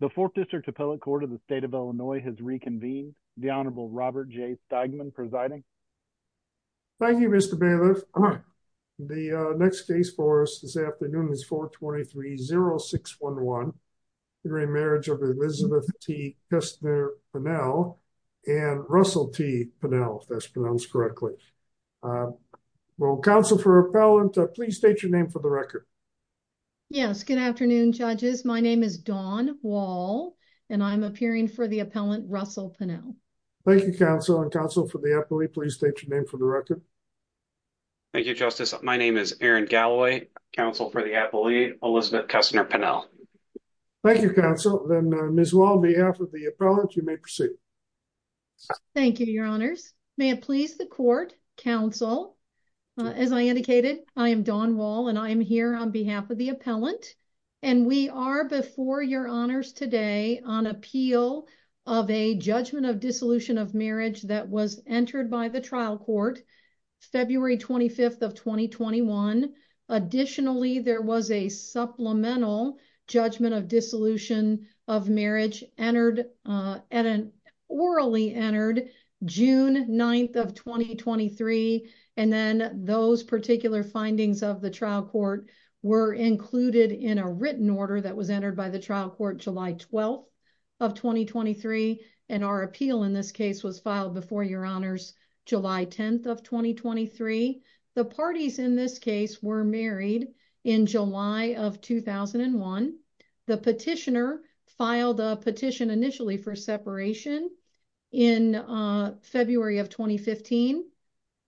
The 4th District Appellate Court of the State of Illinois has reconvened. The Honorable Robert J. Steigman presiding. Thank you, Mr. Bailiff. The next case for us this afternoon is 423-0611, the remarriage of Elizabeth T. Kestner Pennell and Russell T. Pennell, if that's pronounced correctly. Will Counsel for Appellant please state your name for the record? Yes. Good afternoon, judges. My name is Dawn Wall, and I'm appearing for the Appellant, Russell Pennell. Thank you, Counsel. And Counsel for the Appellate, please state your name for the record. Thank you, Justice. My name is Aaron Galloway, Counsel for the Appellate, Elizabeth Kestner Pennell. Thank you, Counsel. Then, Ms. Wall, on behalf of the Appellant, you may proceed. Thank you, Your Honors. May it please the Court, Counsel, as I indicated, I am Dawn Wall, and I am here on behalf of the Appellant. And we are, before Your Honors today, on appeal of a judgment of dissolution of marriage that was entered by the trial court February 25th of 2021. Additionally, there was a supplemental judgment of dissolution of marriage entered, orally entered June 9th of 2023, and then those particular findings of the trial court were included in a written order that was entered by the trial court July 12th of 2023, and our appeal in this case was filed before Your Honors July 10th of 2023. The parties in this case were married in July of 2001. The petitioner filed a petition initially for separation in February of 2015.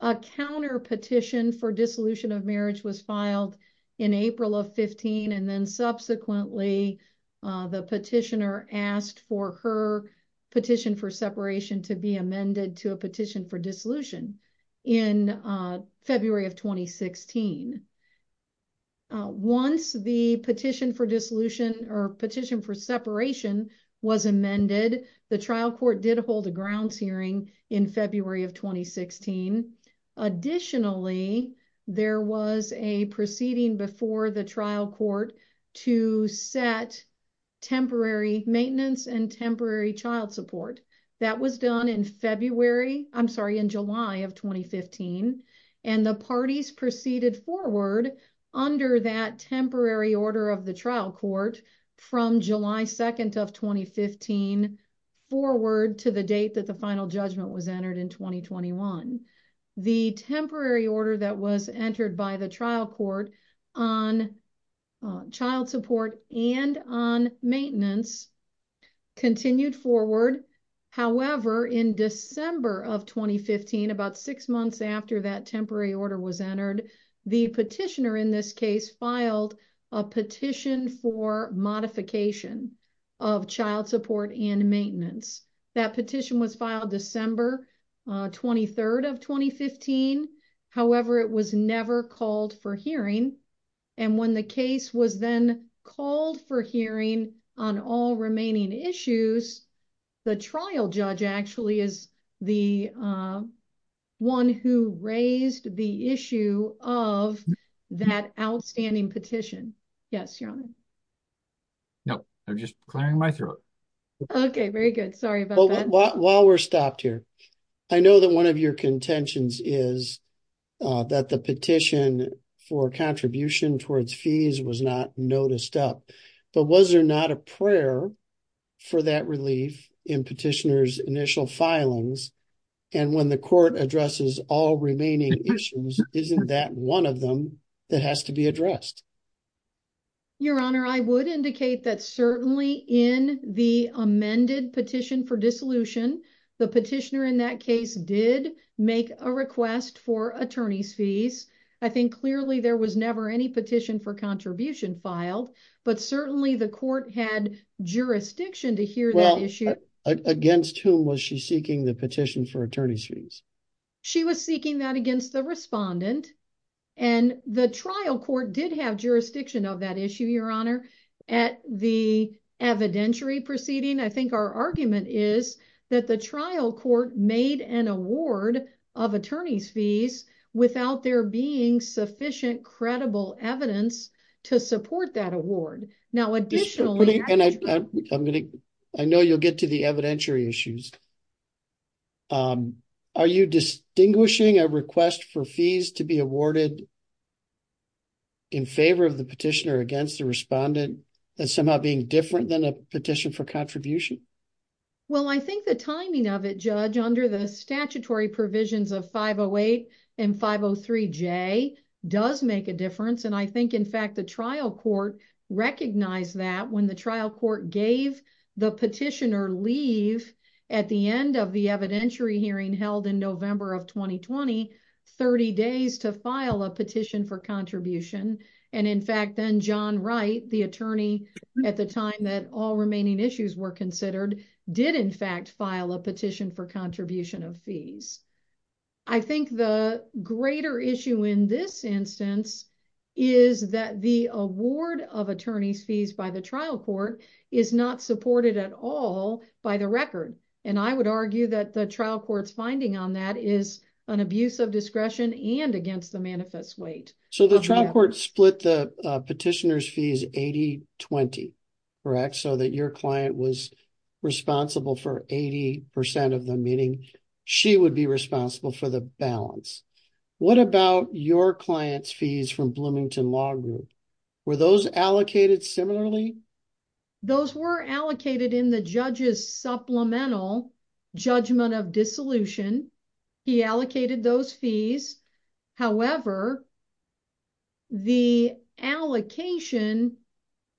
A counterpetition for dissolution of marriage was filed in April of 2015, and then subsequently the petitioner asked for her petition for separation to be amended to a petition for dissolution in February of 2016. Once the petition for dissolution or petition for separation was amended, the trial court did hold a grounds hearing in February of 2016. Additionally, there was a proceeding before the trial court to set temporary maintenance and temporary child support. That was done in February, I'm sorry, in July of 2015, and the parties proceeded forward under that temporary order of the trial court from July 2nd of 2015 forward to the date that the final judgment was entered in 2021. The temporary order that was entered by the trial court on child support and on maintenance continued forward. However, in December of 2015, about six months after that temporary order was entered, the petitioner in this case filed a petition for modification of child support and maintenance. That petition was filed December 23rd of 2015, however, it was never called for hearing. When the case was then called for hearing on all remaining issues, the trial judge actually is the one who raised the issue of that outstanding petition. Yes, your honor. No, they're just clearing my throat. Okay, very good. Sorry about that. While we're stopped here, I know that one of your contentions is that the petition for contribution towards fees was not noticed up, but was there not a prayer for that relief in petitioner's initial filings? And when the court addresses all remaining issues, isn't that one of them that has to be addressed? Your honor, I would indicate that certainly in the amended petition for dissolution, the petitioner in that case did make a request for attorney's fees. I think clearly there was never any petition for contribution filed, but certainly the Against whom was she seeking the petition for attorney's fees? She was seeking that against the respondent and the trial court did have jurisdiction of that issue, your honor, at the evidentiary proceeding. I think our argument is that the trial court made an award of attorney's fees without there being sufficient credible evidence to support that award. I know you'll get to the evidentiary issues. Are you distinguishing a request for fees to be awarded in favor of the petitioner against the respondent as somehow being different than a petition for contribution? Well, I think the timing of it, Judge, under the statutory provisions of 508 and 503J does make a difference, and I think in fact the trial court recognized that when the trial court gave the petitioner leave at the end of the evidentiary hearing held in November of 2020, 30 days to file a petition for contribution, and in fact then John Wright, the attorney at the time that all remaining issues were considered, did in fact file a petition for contribution of fees. I think the greater issue in this instance is that the award of attorney's fees by the trial court is not supported at all by the record, and I would argue that the trial court's finding on that is an abuse of discretion and against the manifest weight. So the trial court split the petitioner's fees 80-20, correct, so that your client was 80% of them, meaning she would be responsible for the balance. What about your client's fees from Bloomington Law Group? Were those allocated similarly? Those were allocated in the judge's supplemental judgment of dissolution. He allocated those fees, however the allocation,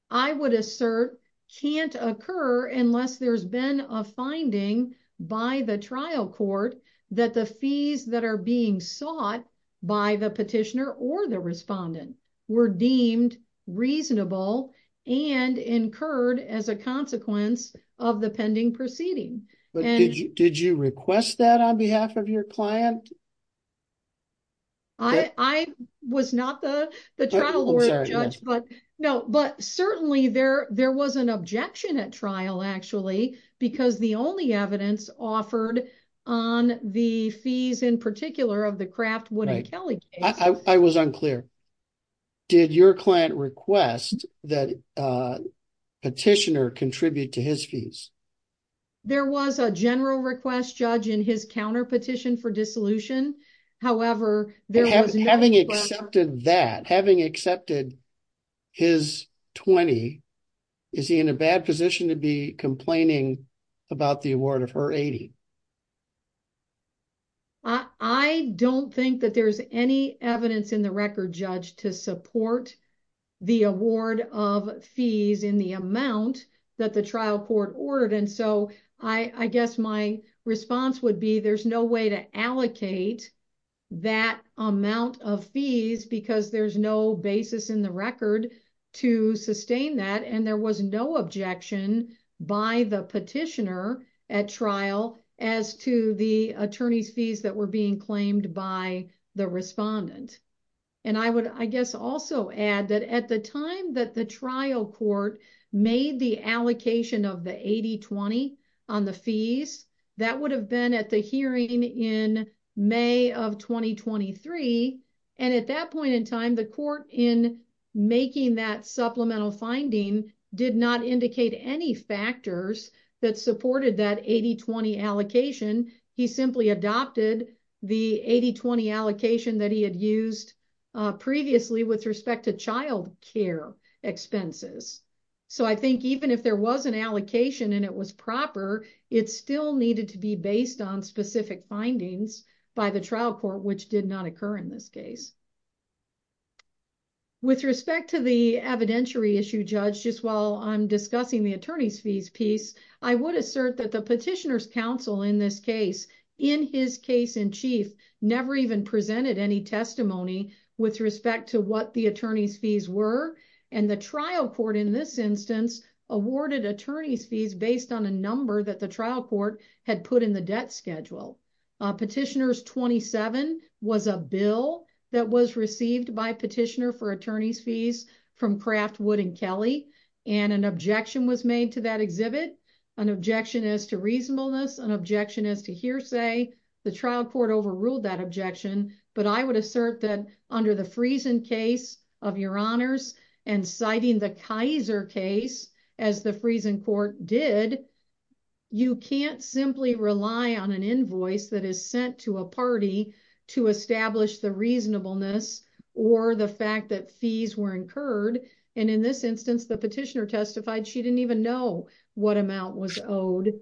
I would assert, can't occur unless there's been a finding by the trial court that the fees that are being sought by the petitioner or the respondent were deemed reasonable and incurred as a consequence of the pending proceeding. Did you request that on behalf of your client? I was not the trial court judge, but no, but certainly there was an objection at trial actually because the only evidence offered on the fees in particular of the Kraft-Wooden-Kelly case. I was unclear. Did your client request that the petitioner contribute to his fees? There was a general request, Judge, in his counterpetition for dissolution, however there was no... Having accepted that, having accepted his 20, is he in a bad position to be complaining about the award of her 80? I don't think that there's any evidence in the record, Judge, to support the award of I guess my response would be there's no way to allocate that amount of fees because there's no basis in the record to sustain that and there was no objection by the petitioner at trial as to the attorney's fees that were being claimed by the respondent. And I would, I guess, also add that at the time that the trial court made the allocation of the 80-20 on the fees, that would have been at the hearing in May of 2023 and at that point in time the court in making that supplemental finding did not indicate any factors that supported that 80-20 previously with respect to child care expenses. So I think even if there was an allocation and it was proper, it still needed to be based on specific findings by the trial court which did not occur in this case. With respect to the evidentiary issue, Judge, just while I'm discussing the attorney's fees piece, I would assert that the petitioner's counsel in this case, in his case in testimony, with respect to what the attorney's fees were and the trial court in this instance awarded attorney's fees based on a number that the trial court had put in the debt schedule. Petitioner's 27 was a bill that was received by petitioner for attorney's fees from Craftwood and Kelly and an objection was made to that exhibit, an objection as to reasonableness, an objection as to hearsay. The trial court overruled that objection but I would assert that under the Friesen case of your honors and citing the Kaiser case as the Friesen court did, you can't simply rely on an invoice that is sent to a party to establish the reasonableness or the fact that fees were incurred and in this instance the petitioner testified she didn't even know what amount was owed.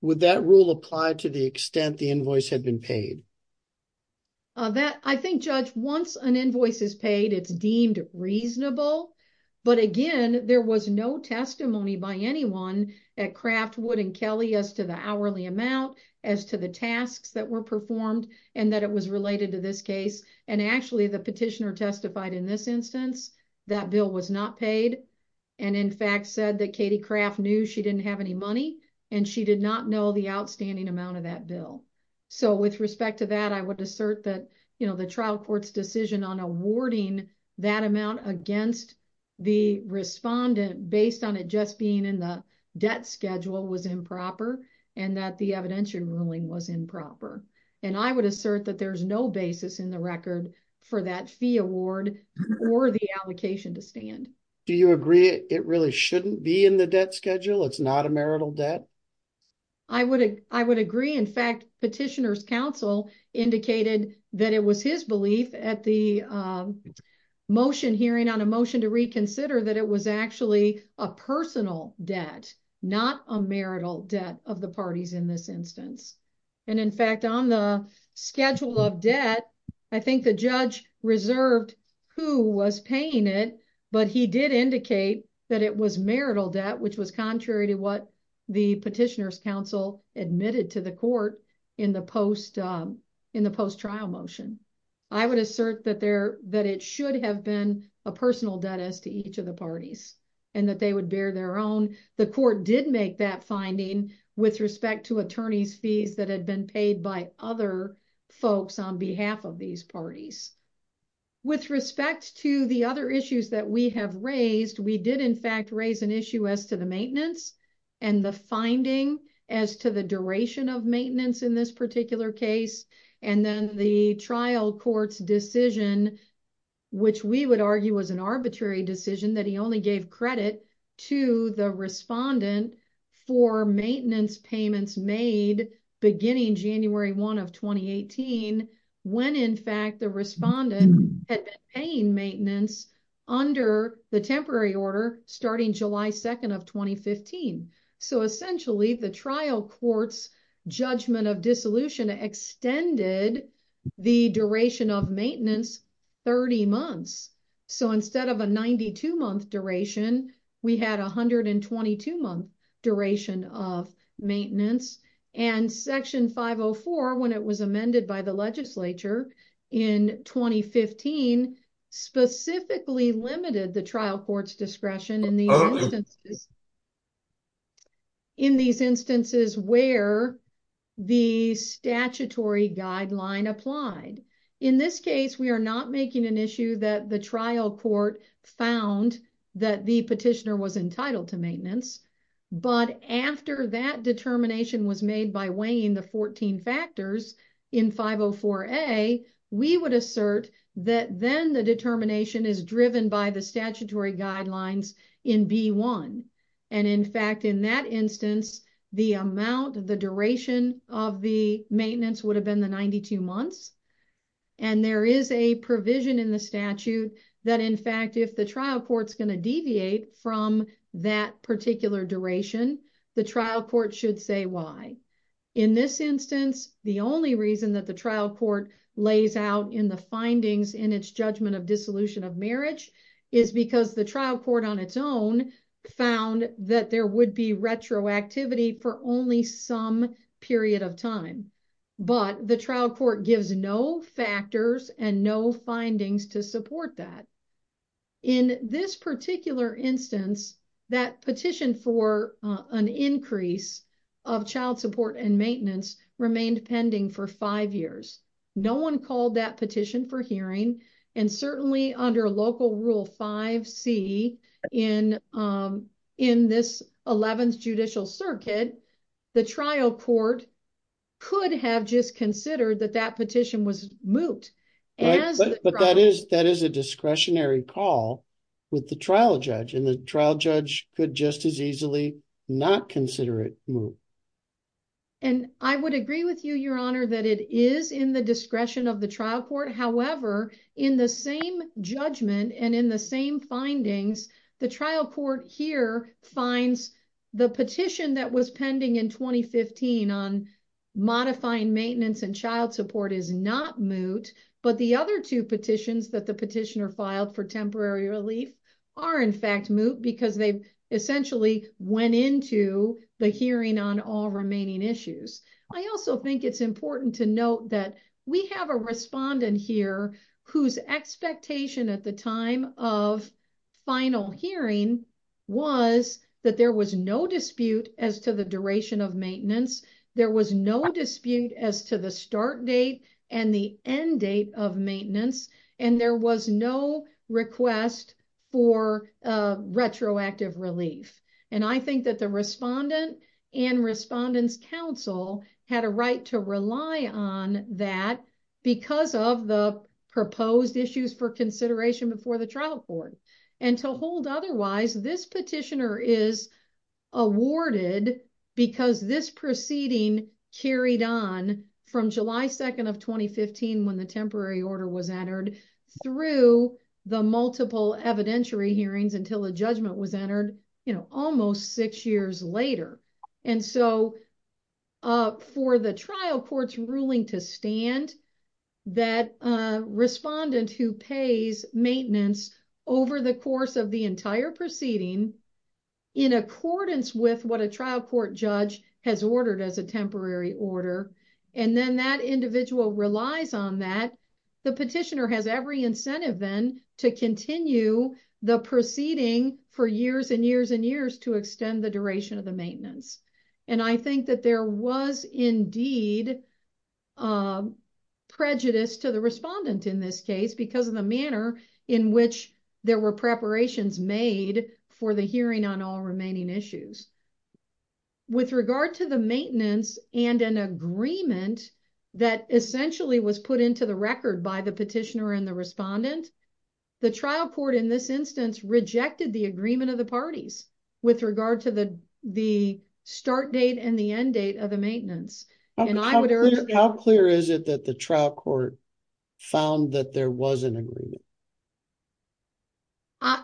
Would that rule apply to the extent the invoice had been paid? I think, Judge, once an invoice is paid it's deemed reasonable but again there was no testimony by anyone at Craftwood and Kelly as to the hourly amount, as to the tasks that were performed, and that it was related to this case and actually the petitioner testified in this instance that bill was not paid and in fact said that Katie Craft knew she didn't have any money and she did not know the outstanding amount of that bill. So with respect to that I would assert that you know the trial court's decision on awarding that amount against the respondent based on it just being in the debt schedule was improper and that the evidentiary ruling was to stand. Do you agree it really shouldn't be in the debt schedule? It's not a marital debt? I would agree. In fact, petitioner's counsel indicated that it was his belief at the motion hearing on a motion to reconsider that it was actually a personal debt not a marital debt of the parties in this instance and in fact on the schedule of debt I think the judge reserved who was paying it but he did indicate that it was marital debt which was contrary to what the petitioner's counsel admitted to the court in the post trial motion. I would assert that there that it should have been a personal debt as to each of the parties and that they would bear their own. The court did make that finding with respect to attorney's fees that had been paid by other folks on behalf of these parties. With respect to the other issues that we have raised, we did in fact raise an issue as to the maintenance and the finding as to the duration of maintenance in this particular case and then the trial court's decision which we would argue was an arbitrary decision that he only gave credit to the respondent for maintenance payments made beginning January 1 of 2018 when in fact the respondent had been paying maintenance under the temporary order starting July 2nd of 2015. So essentially the trial court's judgment of dissolution extended the duration of maintenance 30 months. So instead of a 92-month duration we had a 122-month duration of maintenance and section 504 when it was amended by the legislature in 2015 specifically limited the trial court's discretion in these instances where the statutory guideline applied. In this case we are not making an issue that the trial court found that the petitioner was entitled to maintenance but after that determination was made by weighing the 14 factors in 504a we would assert that then the determination is driven by the statutory guidelines in b1 and in fact in that instance the amount of the duration of the if the trial court's going to deviate from that particular duration the trial court should say why in this instance the only reason that the trial court lays out in the findings in its judgment of dissolution of marriage is because the trial court on its own found that there would be retroactivity for only some period of time but the trial court gives no factors and no findings to support that. In this particular instance that petition for an increase of child support and maintenance remained pending for five years. No one called that petition for hearing and certainly under local rule 5c in in this 11th judicial circuit the trial court could have just considered that that petition was moot. Right but that is that is a discretionary call with the trial judge and the trial judge could just as easily not consider it moot. And I would agree with you your honor that it is in the discretion of the trial court however in the same judgment and in the same findings the trial court here finds the petition that was pending in 2015 on modifying maintenance and child support is not moot but the other two petitions that the petitioner filed for temporary relief are in fact moot because they essentially went into the hearing on all remaining issues. I also think it's important to note that we have a respondent here whose expectation at the time of final hearing was that there was no dispute as to the duration of maintenance. There was no dispute as to the start date and the end date of maintenance and there was no request for retroactive relief. And I think that the respondent and respondent's counsel had a right to rely on that because of the proposed issues for consideration before the trial court. And to hold otherwise this petitioner is awarded because this proceeding carried on from July 2nd of 2015 when the temporary order was entered through the multiple evidentiary hearings until the judgment was entered you know almost six years later. And so for the trial court's ruling to stand that respondent who pays maintenance over the course of the entire proceeding in accordance with what a trial court judge has ordered as a temporary order and then that individual relies on that, the petitioner has every incentive then to continue the proceeding for years and years and years to extend the duration of the maintenance. And I think that there was indeed prejudice to the respondent in this case because of the manner in which there were preparations made for the hearing on all remaining issues. With regard to the maintenance and an agreement that essentially was put into the record by the petitioner and the respondent, the trial court in this instance rejected the agreement of the parties with regard to the start date and the end date of the maintenance. How clear is it that the trial court found that there was an agreement?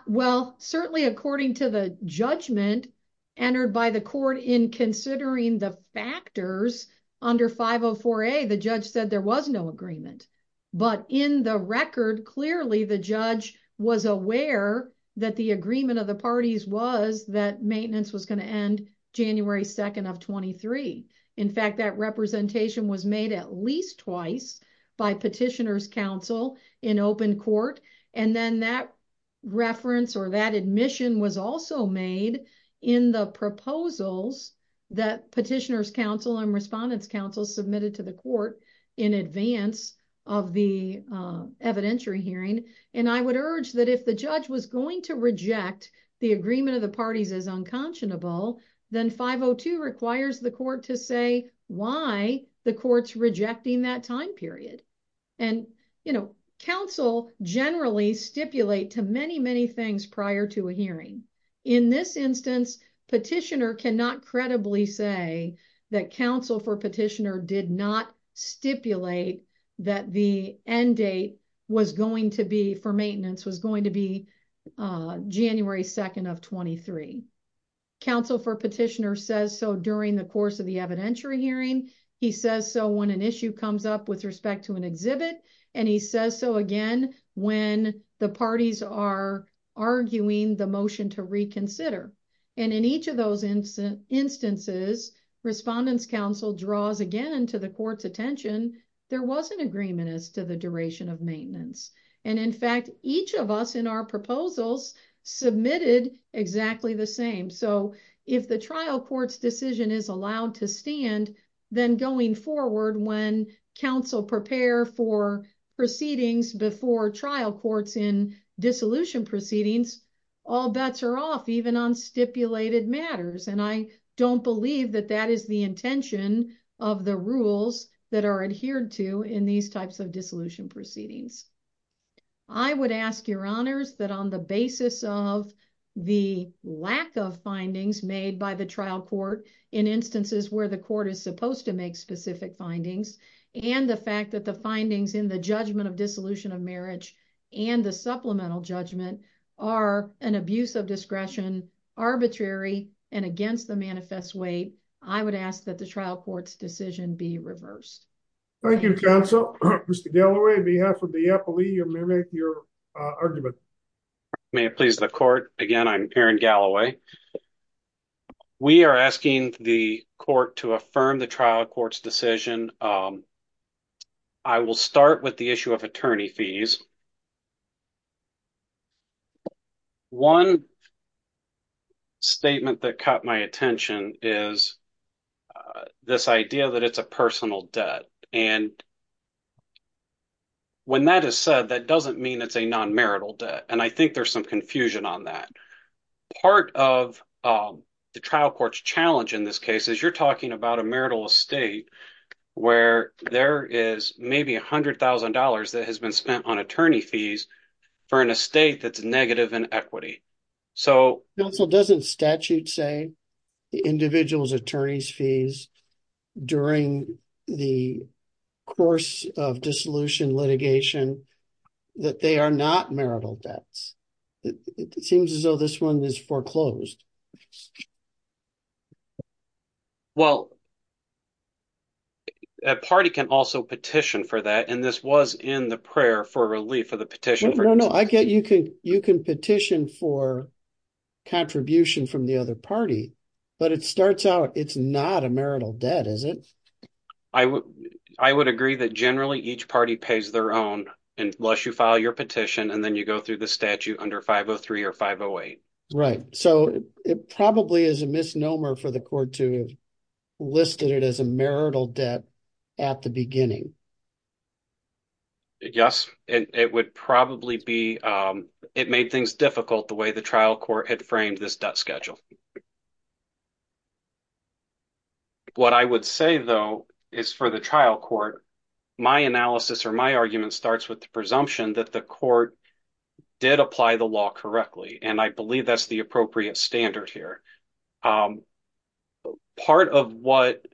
Well certainly according to the judgment entered by the court in considering the factors under 504a the judge said there was no agreement. But in the record clearly the judge was aware that the agreement of the parties was that maintenance was going to end January 2nd of 23. In fact that representation was made at least twice by petitioner's counsel in open court and then that reference or that admission was also made in the proposals that petitioner's counsel and respondent's counsel submitted to the court in advance of the evidentiary hearing. And I would urge that if the judge was going to reject the agreement of the parties as unconscionable then 502 requires the court to say why the court's rejecting that time period. And you know counsel generally stipulate to many many things prior to a hearing. In this instance petitioner cannot credibly say that counsel for petitioner did not stipulate that the end date was going to be for maintenance was going to be January 2nd of 23. Counsel for petitioner says so during the course of the evidentiary hearing. He says so when an issue comes up with respect to an exhibit and he says so again when the parties are arguing the motion to reconsider. And in each of those instances respondent's counsel draws again to the court's attention there was an agreement as to the duration of maintenance. And in fact each of us in our proposals submitted exactly the same. So if the trial court's decision is allowed to stand then going forward when counsel prepare for proceedings before trial courts in dissolution proceedings all bets are off even on stipulated matters. And I rules that are adhered to in these types of dissolution proceedings. I would ask your honors that on the basis of the lack of findings made by the trial court in instances where the court is supposed to make specific findings and the fact that the findings in the judgment of dissolution of marriage and the supplemental judgment are an abuse of discretion arbitrary and against the manifest way I would ask that the trial court's decision be reversed. Thank you counsel. Mr. Galloway on behalf of the appellee you may make your argument. May it please the court again I'm Aaron Galloway. We are asking the court to affirm the trial court's decision. I will start with the issue of attorney fees. One statement that caught my attention is this idea that it's a personal debt and when that is said that doesn't mean it's a non-marital debt and I think there's some confusion on that. Part of the trial court's challenge in this case is you're talking about a marital estate where there is maybe a hundred thousand dollars that has been spent on attorney fees for an estate that's negative in equity. So counsel doesn't statute say the individual's attorney's fees during the course of dissolution litigation that they are not marital debts. It seems as though this one is foreclosed. Well a party can also petition for that and this was in the prayer for relief for the petition. No no I get you can you can petition for contribution from the other party but it starts out it's not a marital debt is it? I would agree that generally each party pays their own unless you file your petition and then you go through the statute under 503 or 508. Right so it probably is a misnomer for the court to have listed it as a marital debt at the beginning. Yes it would probably be it made things difficult the way the trial court had framed this debt schedule. What I would say though is for the trial court my analysis or my argument starts with the presumption that the court did apply the law correctly and I believe that's the appropriate standard here. Part of what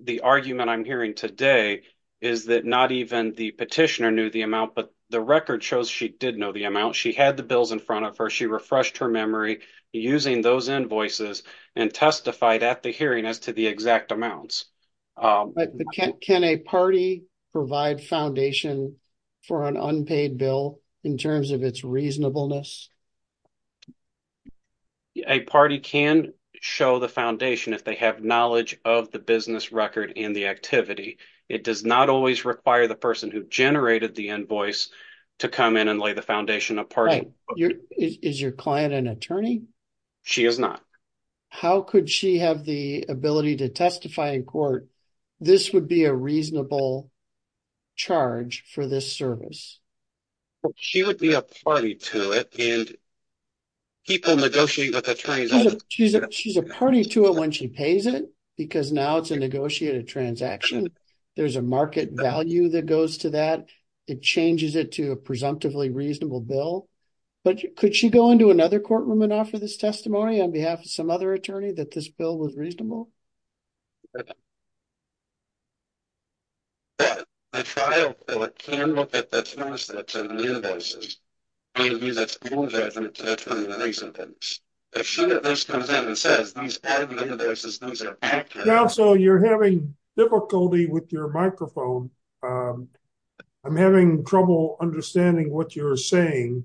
the argument I'm hearing today is that not even the petitioner knew the amount but the record shows she did know the amount she had the bills in front of her she refreshed her memory using those invoices and testified at the hearing as to the exact amounts. But can a party provide foundation for an unpaid bill in terms of its reasonableness? A party can show the foundation if they have knowledge of the business record and the activity it does not always require the person who generated the invoice to come in and lay the foundation apart. Is your client an attorney? She is not. How could she have the ability to testify in court this would be a reasonable charge for this service? She would be a party to it and people negotiating with attorneys. She's a party to it when she pays it because now it's a negotiated transaction there's a market value that goes to that it changes it to a presumptively reasonable bill but could she go into another courtroom and offer this testimony on behalf of another attorney that this bill was reasonable? Now so you're having difficulty with your microphone. I'm having trouble understanding what you're saying.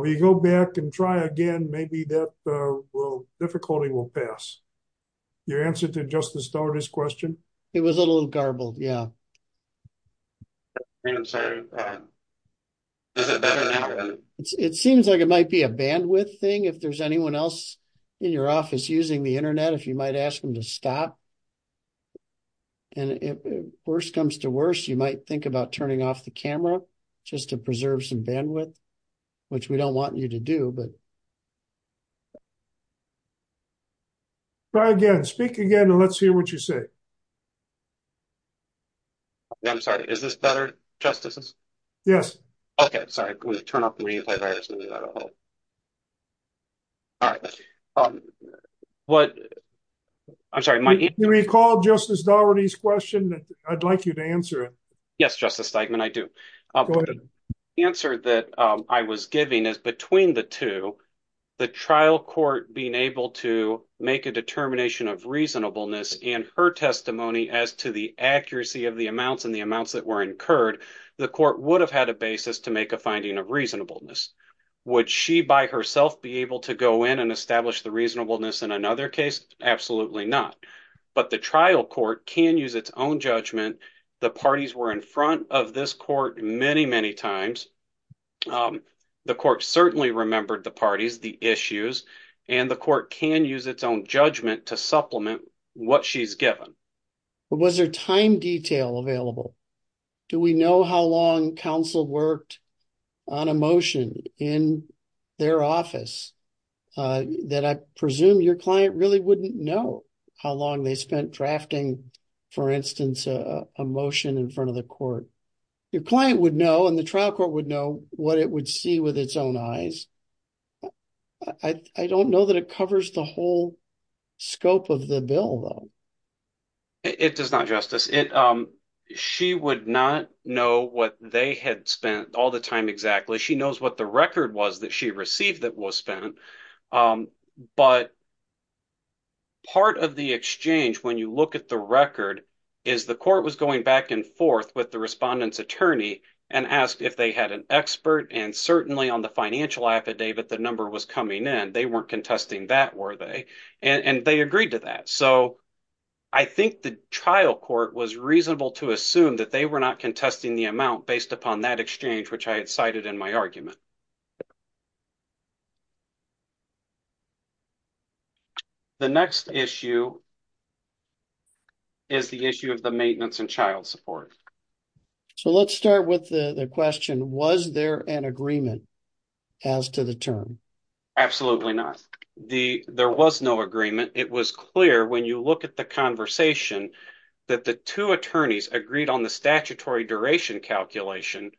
We go back and try again maybe that will difficulty will pass. Your answer to just the starters question? It was a little garbled yeah. It seems like it might be a bandwidth thing if there's anyone else in your office using the internet if you might ask them to stop and if worse comes to worse you might think about turning off the camera just to preserve some bandwidth which we don't want you to do but try again speak again and let's hear what you say. I'm sorry is this better justices? Yes. Okay sorry we turn off the replay virus. Do you recall Justice Daugherty's question that I'd like you to answer? Yes Justice Steigman I do. The answer that I was giving is between the two the trial court being able to make a determination of reasonableness and her testimony as to the accuracy of the amounts and the amounts that were incurred the court would have had a basis to make finding a reasonableness. Would she by herself be able to go in and establish the reasonableness in another case? Absolutely not but the trial court can use its own judgment the parties were in front of this court many many times the court certainly remembered the parties the issues and the court can use its own judgment to supplement what she's given. But was there time detail available? Do we know how long counsel worked on a motion in their office that I presume your client really wouldn't know how long they spent drafting for instance a motion in front of the court. Your client would know and the trial court would know what it would see with it does not justice it she would not know what they had spent all the time exactly she knows what the record was that she received that was spent but part of the exchange when you look at the record is the court was going back and forth with the respondent's attorney and asked if they had an expert and certainly on the financial affidavit the number was coming in they weren't contesting that were they and they agreed to that so I think the trial court was reasonable to assume that they were not contesting the amount based upon that exchange which I had cited in my argument. The next issue is the issue of the maintenance and child support. So let's start with the the question was there an agreement as to the term? Absolutely not the there was no agreement it was clear when you look at the conversation that the two attorneys agreed on the statutory duration calculation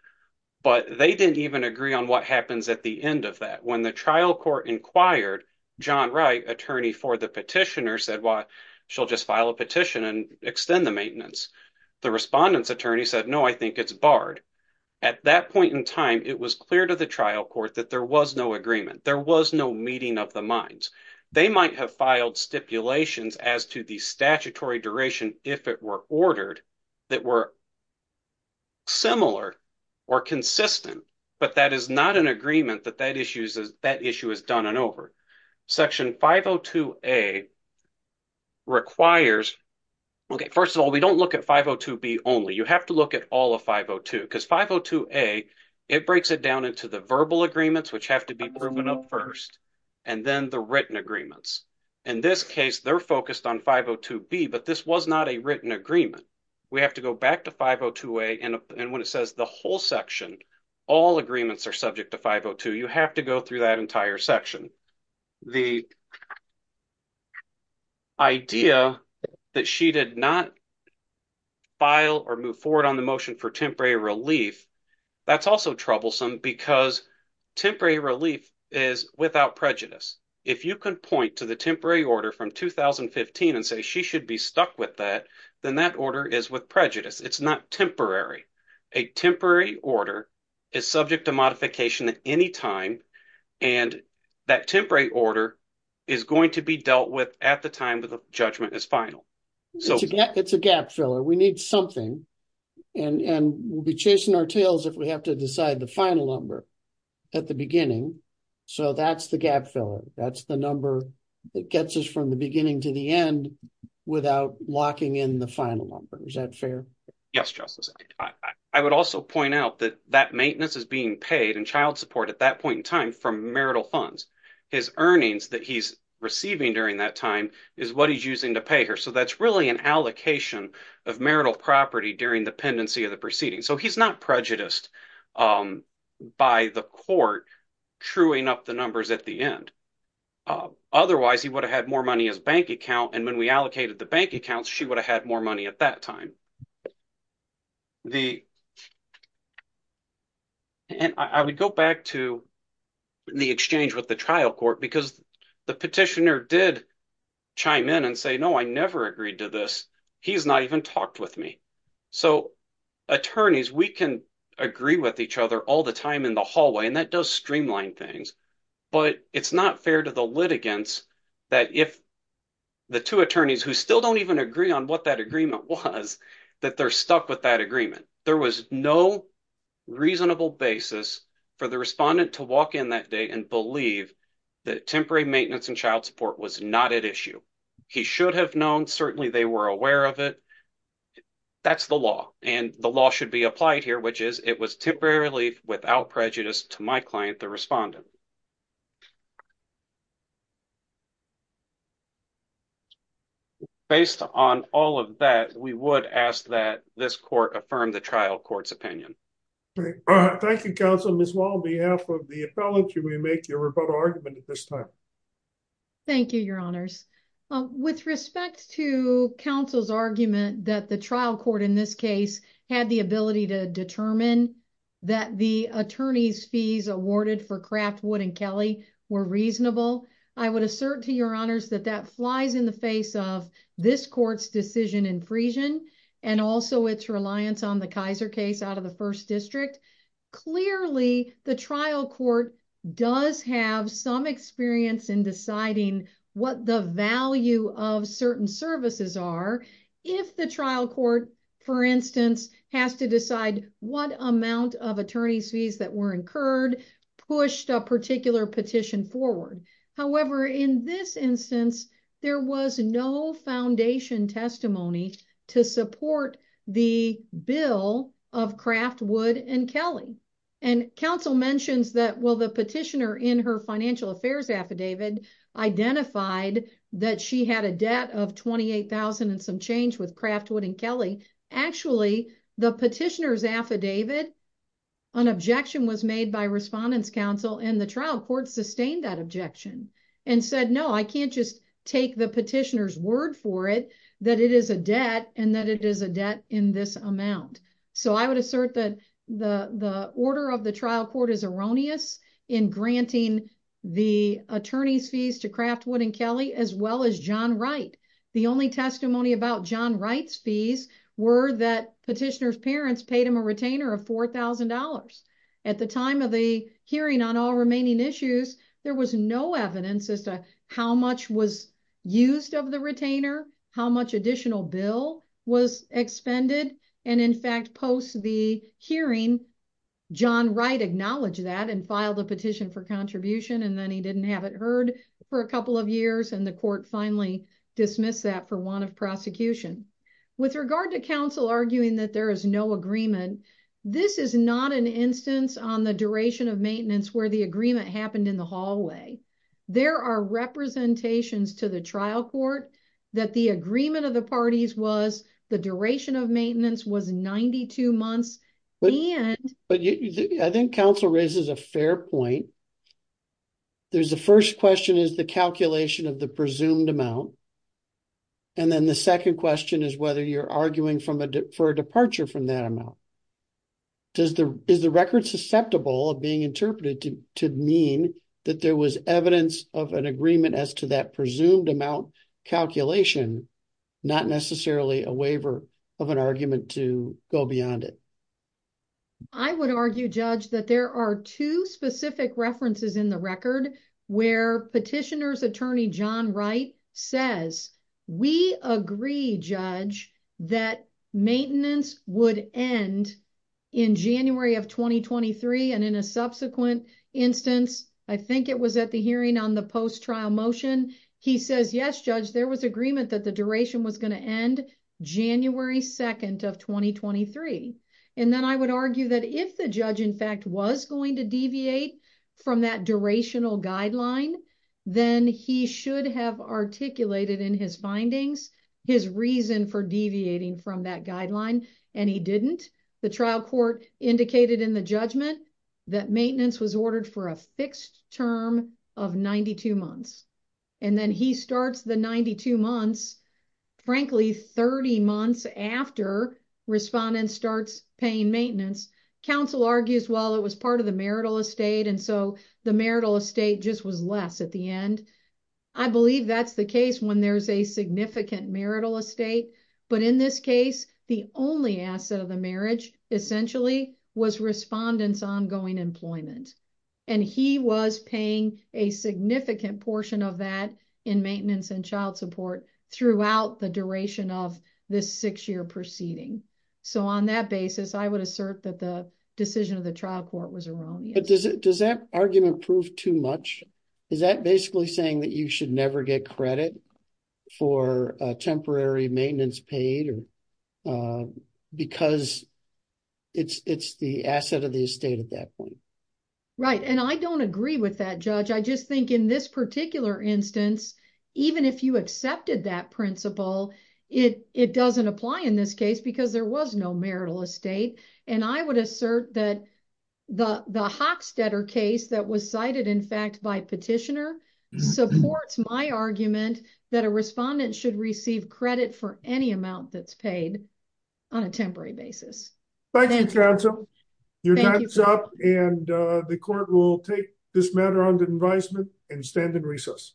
but they didn't even agree on what happens at the end of that when the trial court inquired John Wright attorney for the petitioner said why she'll just turn he said no I think it's barred at that point in time it was clear to the trial court that there was no agreement there was no meeting of the minds they might have filed stipulations as to the statutory duration if it were ordered that were similar or consistent but that is not an agreement that that issue is that issue is done and over section 502a requires okay first of all we don't look at 502b only you have to look at all of 502 because 502a it breaks it down into the verbal agreements which have to be proven up first and then the written agreements in this case they're focused on 502b but this was not a written agreement we have to go back to 502a and when it says the whole section all agreements are subject to 502 you have to go through that entire section the idea that she did not file or move forward on the motion for temporary relief that's also troublesome because temporary relief is without prejudice if you can point to the temporary order from 2015 and say she should be stuck with that then that order is with prejudice it's not temporary a temporary order is subject to modification at any time and that temporary order is going to be dealt with at the time that the judgment is final so it's a gap filler we need something and and we'll be chasing our tails if we have to decide the final number at the beginning so that's the gap filler that's the number that gets us from the beginning to the end without locking in the final number is that fair yes justice i would also point out that that maintenance is being paid and child support at that point in time from marital funds his earnings that he's receiving during that time is what he's using to pay her so that's really an allocation of marital property during the pendency of the proceeding so he's not prejudiced by the court truing up the numbers at the end otherwise he would have had more money as bank account and when we allocated the bank accounts she would have had more money at that time the and i would go back to the exchange with the trial court because the petitioner did chime in and say no i never agreed to this he's not even talked with me so attorneys we can agree with each other all the time in the hallway and that does streamline things but it's not fair to the litigants that if the two attorneys who still don't even agree on what that agreement was that they're stuck with that agreement there was no reasonable basis for the respondent to walk in that day and believe that temporary maintenance and child support was not at issue he should have known certainly they were aware of it that's the law and the law should be okay based on all of that we would ask that this court affirm the trial court's opinion thank you counsel miss wall on behalf of the appellate you may make your rebuttal argument at this time thank you your honors with respect to counsel's argument that the trial court in determine that the attorney's fees awarded for craftwood and kelly were reasonable i would assert to your honors that that flies in the face of this court's decision in freesian and also its reliance on the kaiser case out of the first district clearly the trial court does have some experience in deciding what the value of certain services are if the trial court for what amount of attorney's fees that were incurred pushed a particular petition forward however in this instance there was no foundation testimony to support the bill of craftwood and kelly and counsel mentions that well the petitioner in her financial affairs affidavit identified that she had a debt of 28 000 and some change with craftwood and kelly actually the petitioner's affidavit an objection was made by respondents council and the trial court sustained that objection and said no i can't just take the petitioner's word for it that it is a debt and that it is a debt in this amount so i would assert that the the order of the trial court is erroneous in granting the attorney's fees to craftwood and kelly as well as john wright the only testimony about john wright's fees were that petitioner's parents paid him a retainer of four thousand dollars at the time of the hearing on all remaining issues there was no evidence as to how much was used of the retainer how much additional bill was expended and in fact post the hearing john wright acknowledged that and filed a petition for contribution and then he didn't have it heard for a couple of years and the court finally dismissed that for want of prosecution with regard to counsel arguing that there is no agreement this is not an instance on the duration of maintenance where the agreement happened in the hallway there are representations to the trial court that the agreement of the parties was the duration of maintenance was 92 months but and but i think council raises a fair point there's the first question is the calculation of the presumed amount and then the second question is whether you're arguing from a for a departure from that amount does the is the record susceptible of being interpreted to mean that there was evidence of an agreement as to that presumed amount calculation not necessarily a waiver of an argument to go beyond it i would argue judge that there are two specific references in the record where petitioner's attorney john wright says we agree judge that maintenance would end in january of 2023 and in a subsequent instance i think it was at the hearing on the post-trial motion he says yes judge there was agreement that the duration was going to end january 2nd of 2023 and then i would argue that if the judge in fact was going to deviate from that durational guideline then he should have articulated in his findings his reason for the trial court indicated in the judgment that maintenance was ordered for a fixed term of 92 months and then he starts the 92 months frankly 30 months after respondent starts paying maintenance council argues while it was part of the marital estate and so the marital estate just was less at the end i believe that's the case when there's a significant marital estate but in this case the only asset of the marriage essentially was respondents ongoing employment and he was paying a significant portion of that in maintenance and child support throughout the duration of this six-year proceeding so on that basis i would assert that the decision of the trial court was wrong but does it does that argument prove too much is that basically saying that should never get credit for a temporary maintenance paid or because it's it's the asset of the estate at that point right and i don't agree with that judge i just think in this particular instance even if you accepted that principle it it doesn't apply in this case because there was no marital estate and i would assert that the the hockstetter case that was cited in fact by petitioner supports my argument that a respondent should receive credit for any amount that's paid on a temporary basis thank you counsel your time is up and uh the court will take this matter under advisement and stand in recess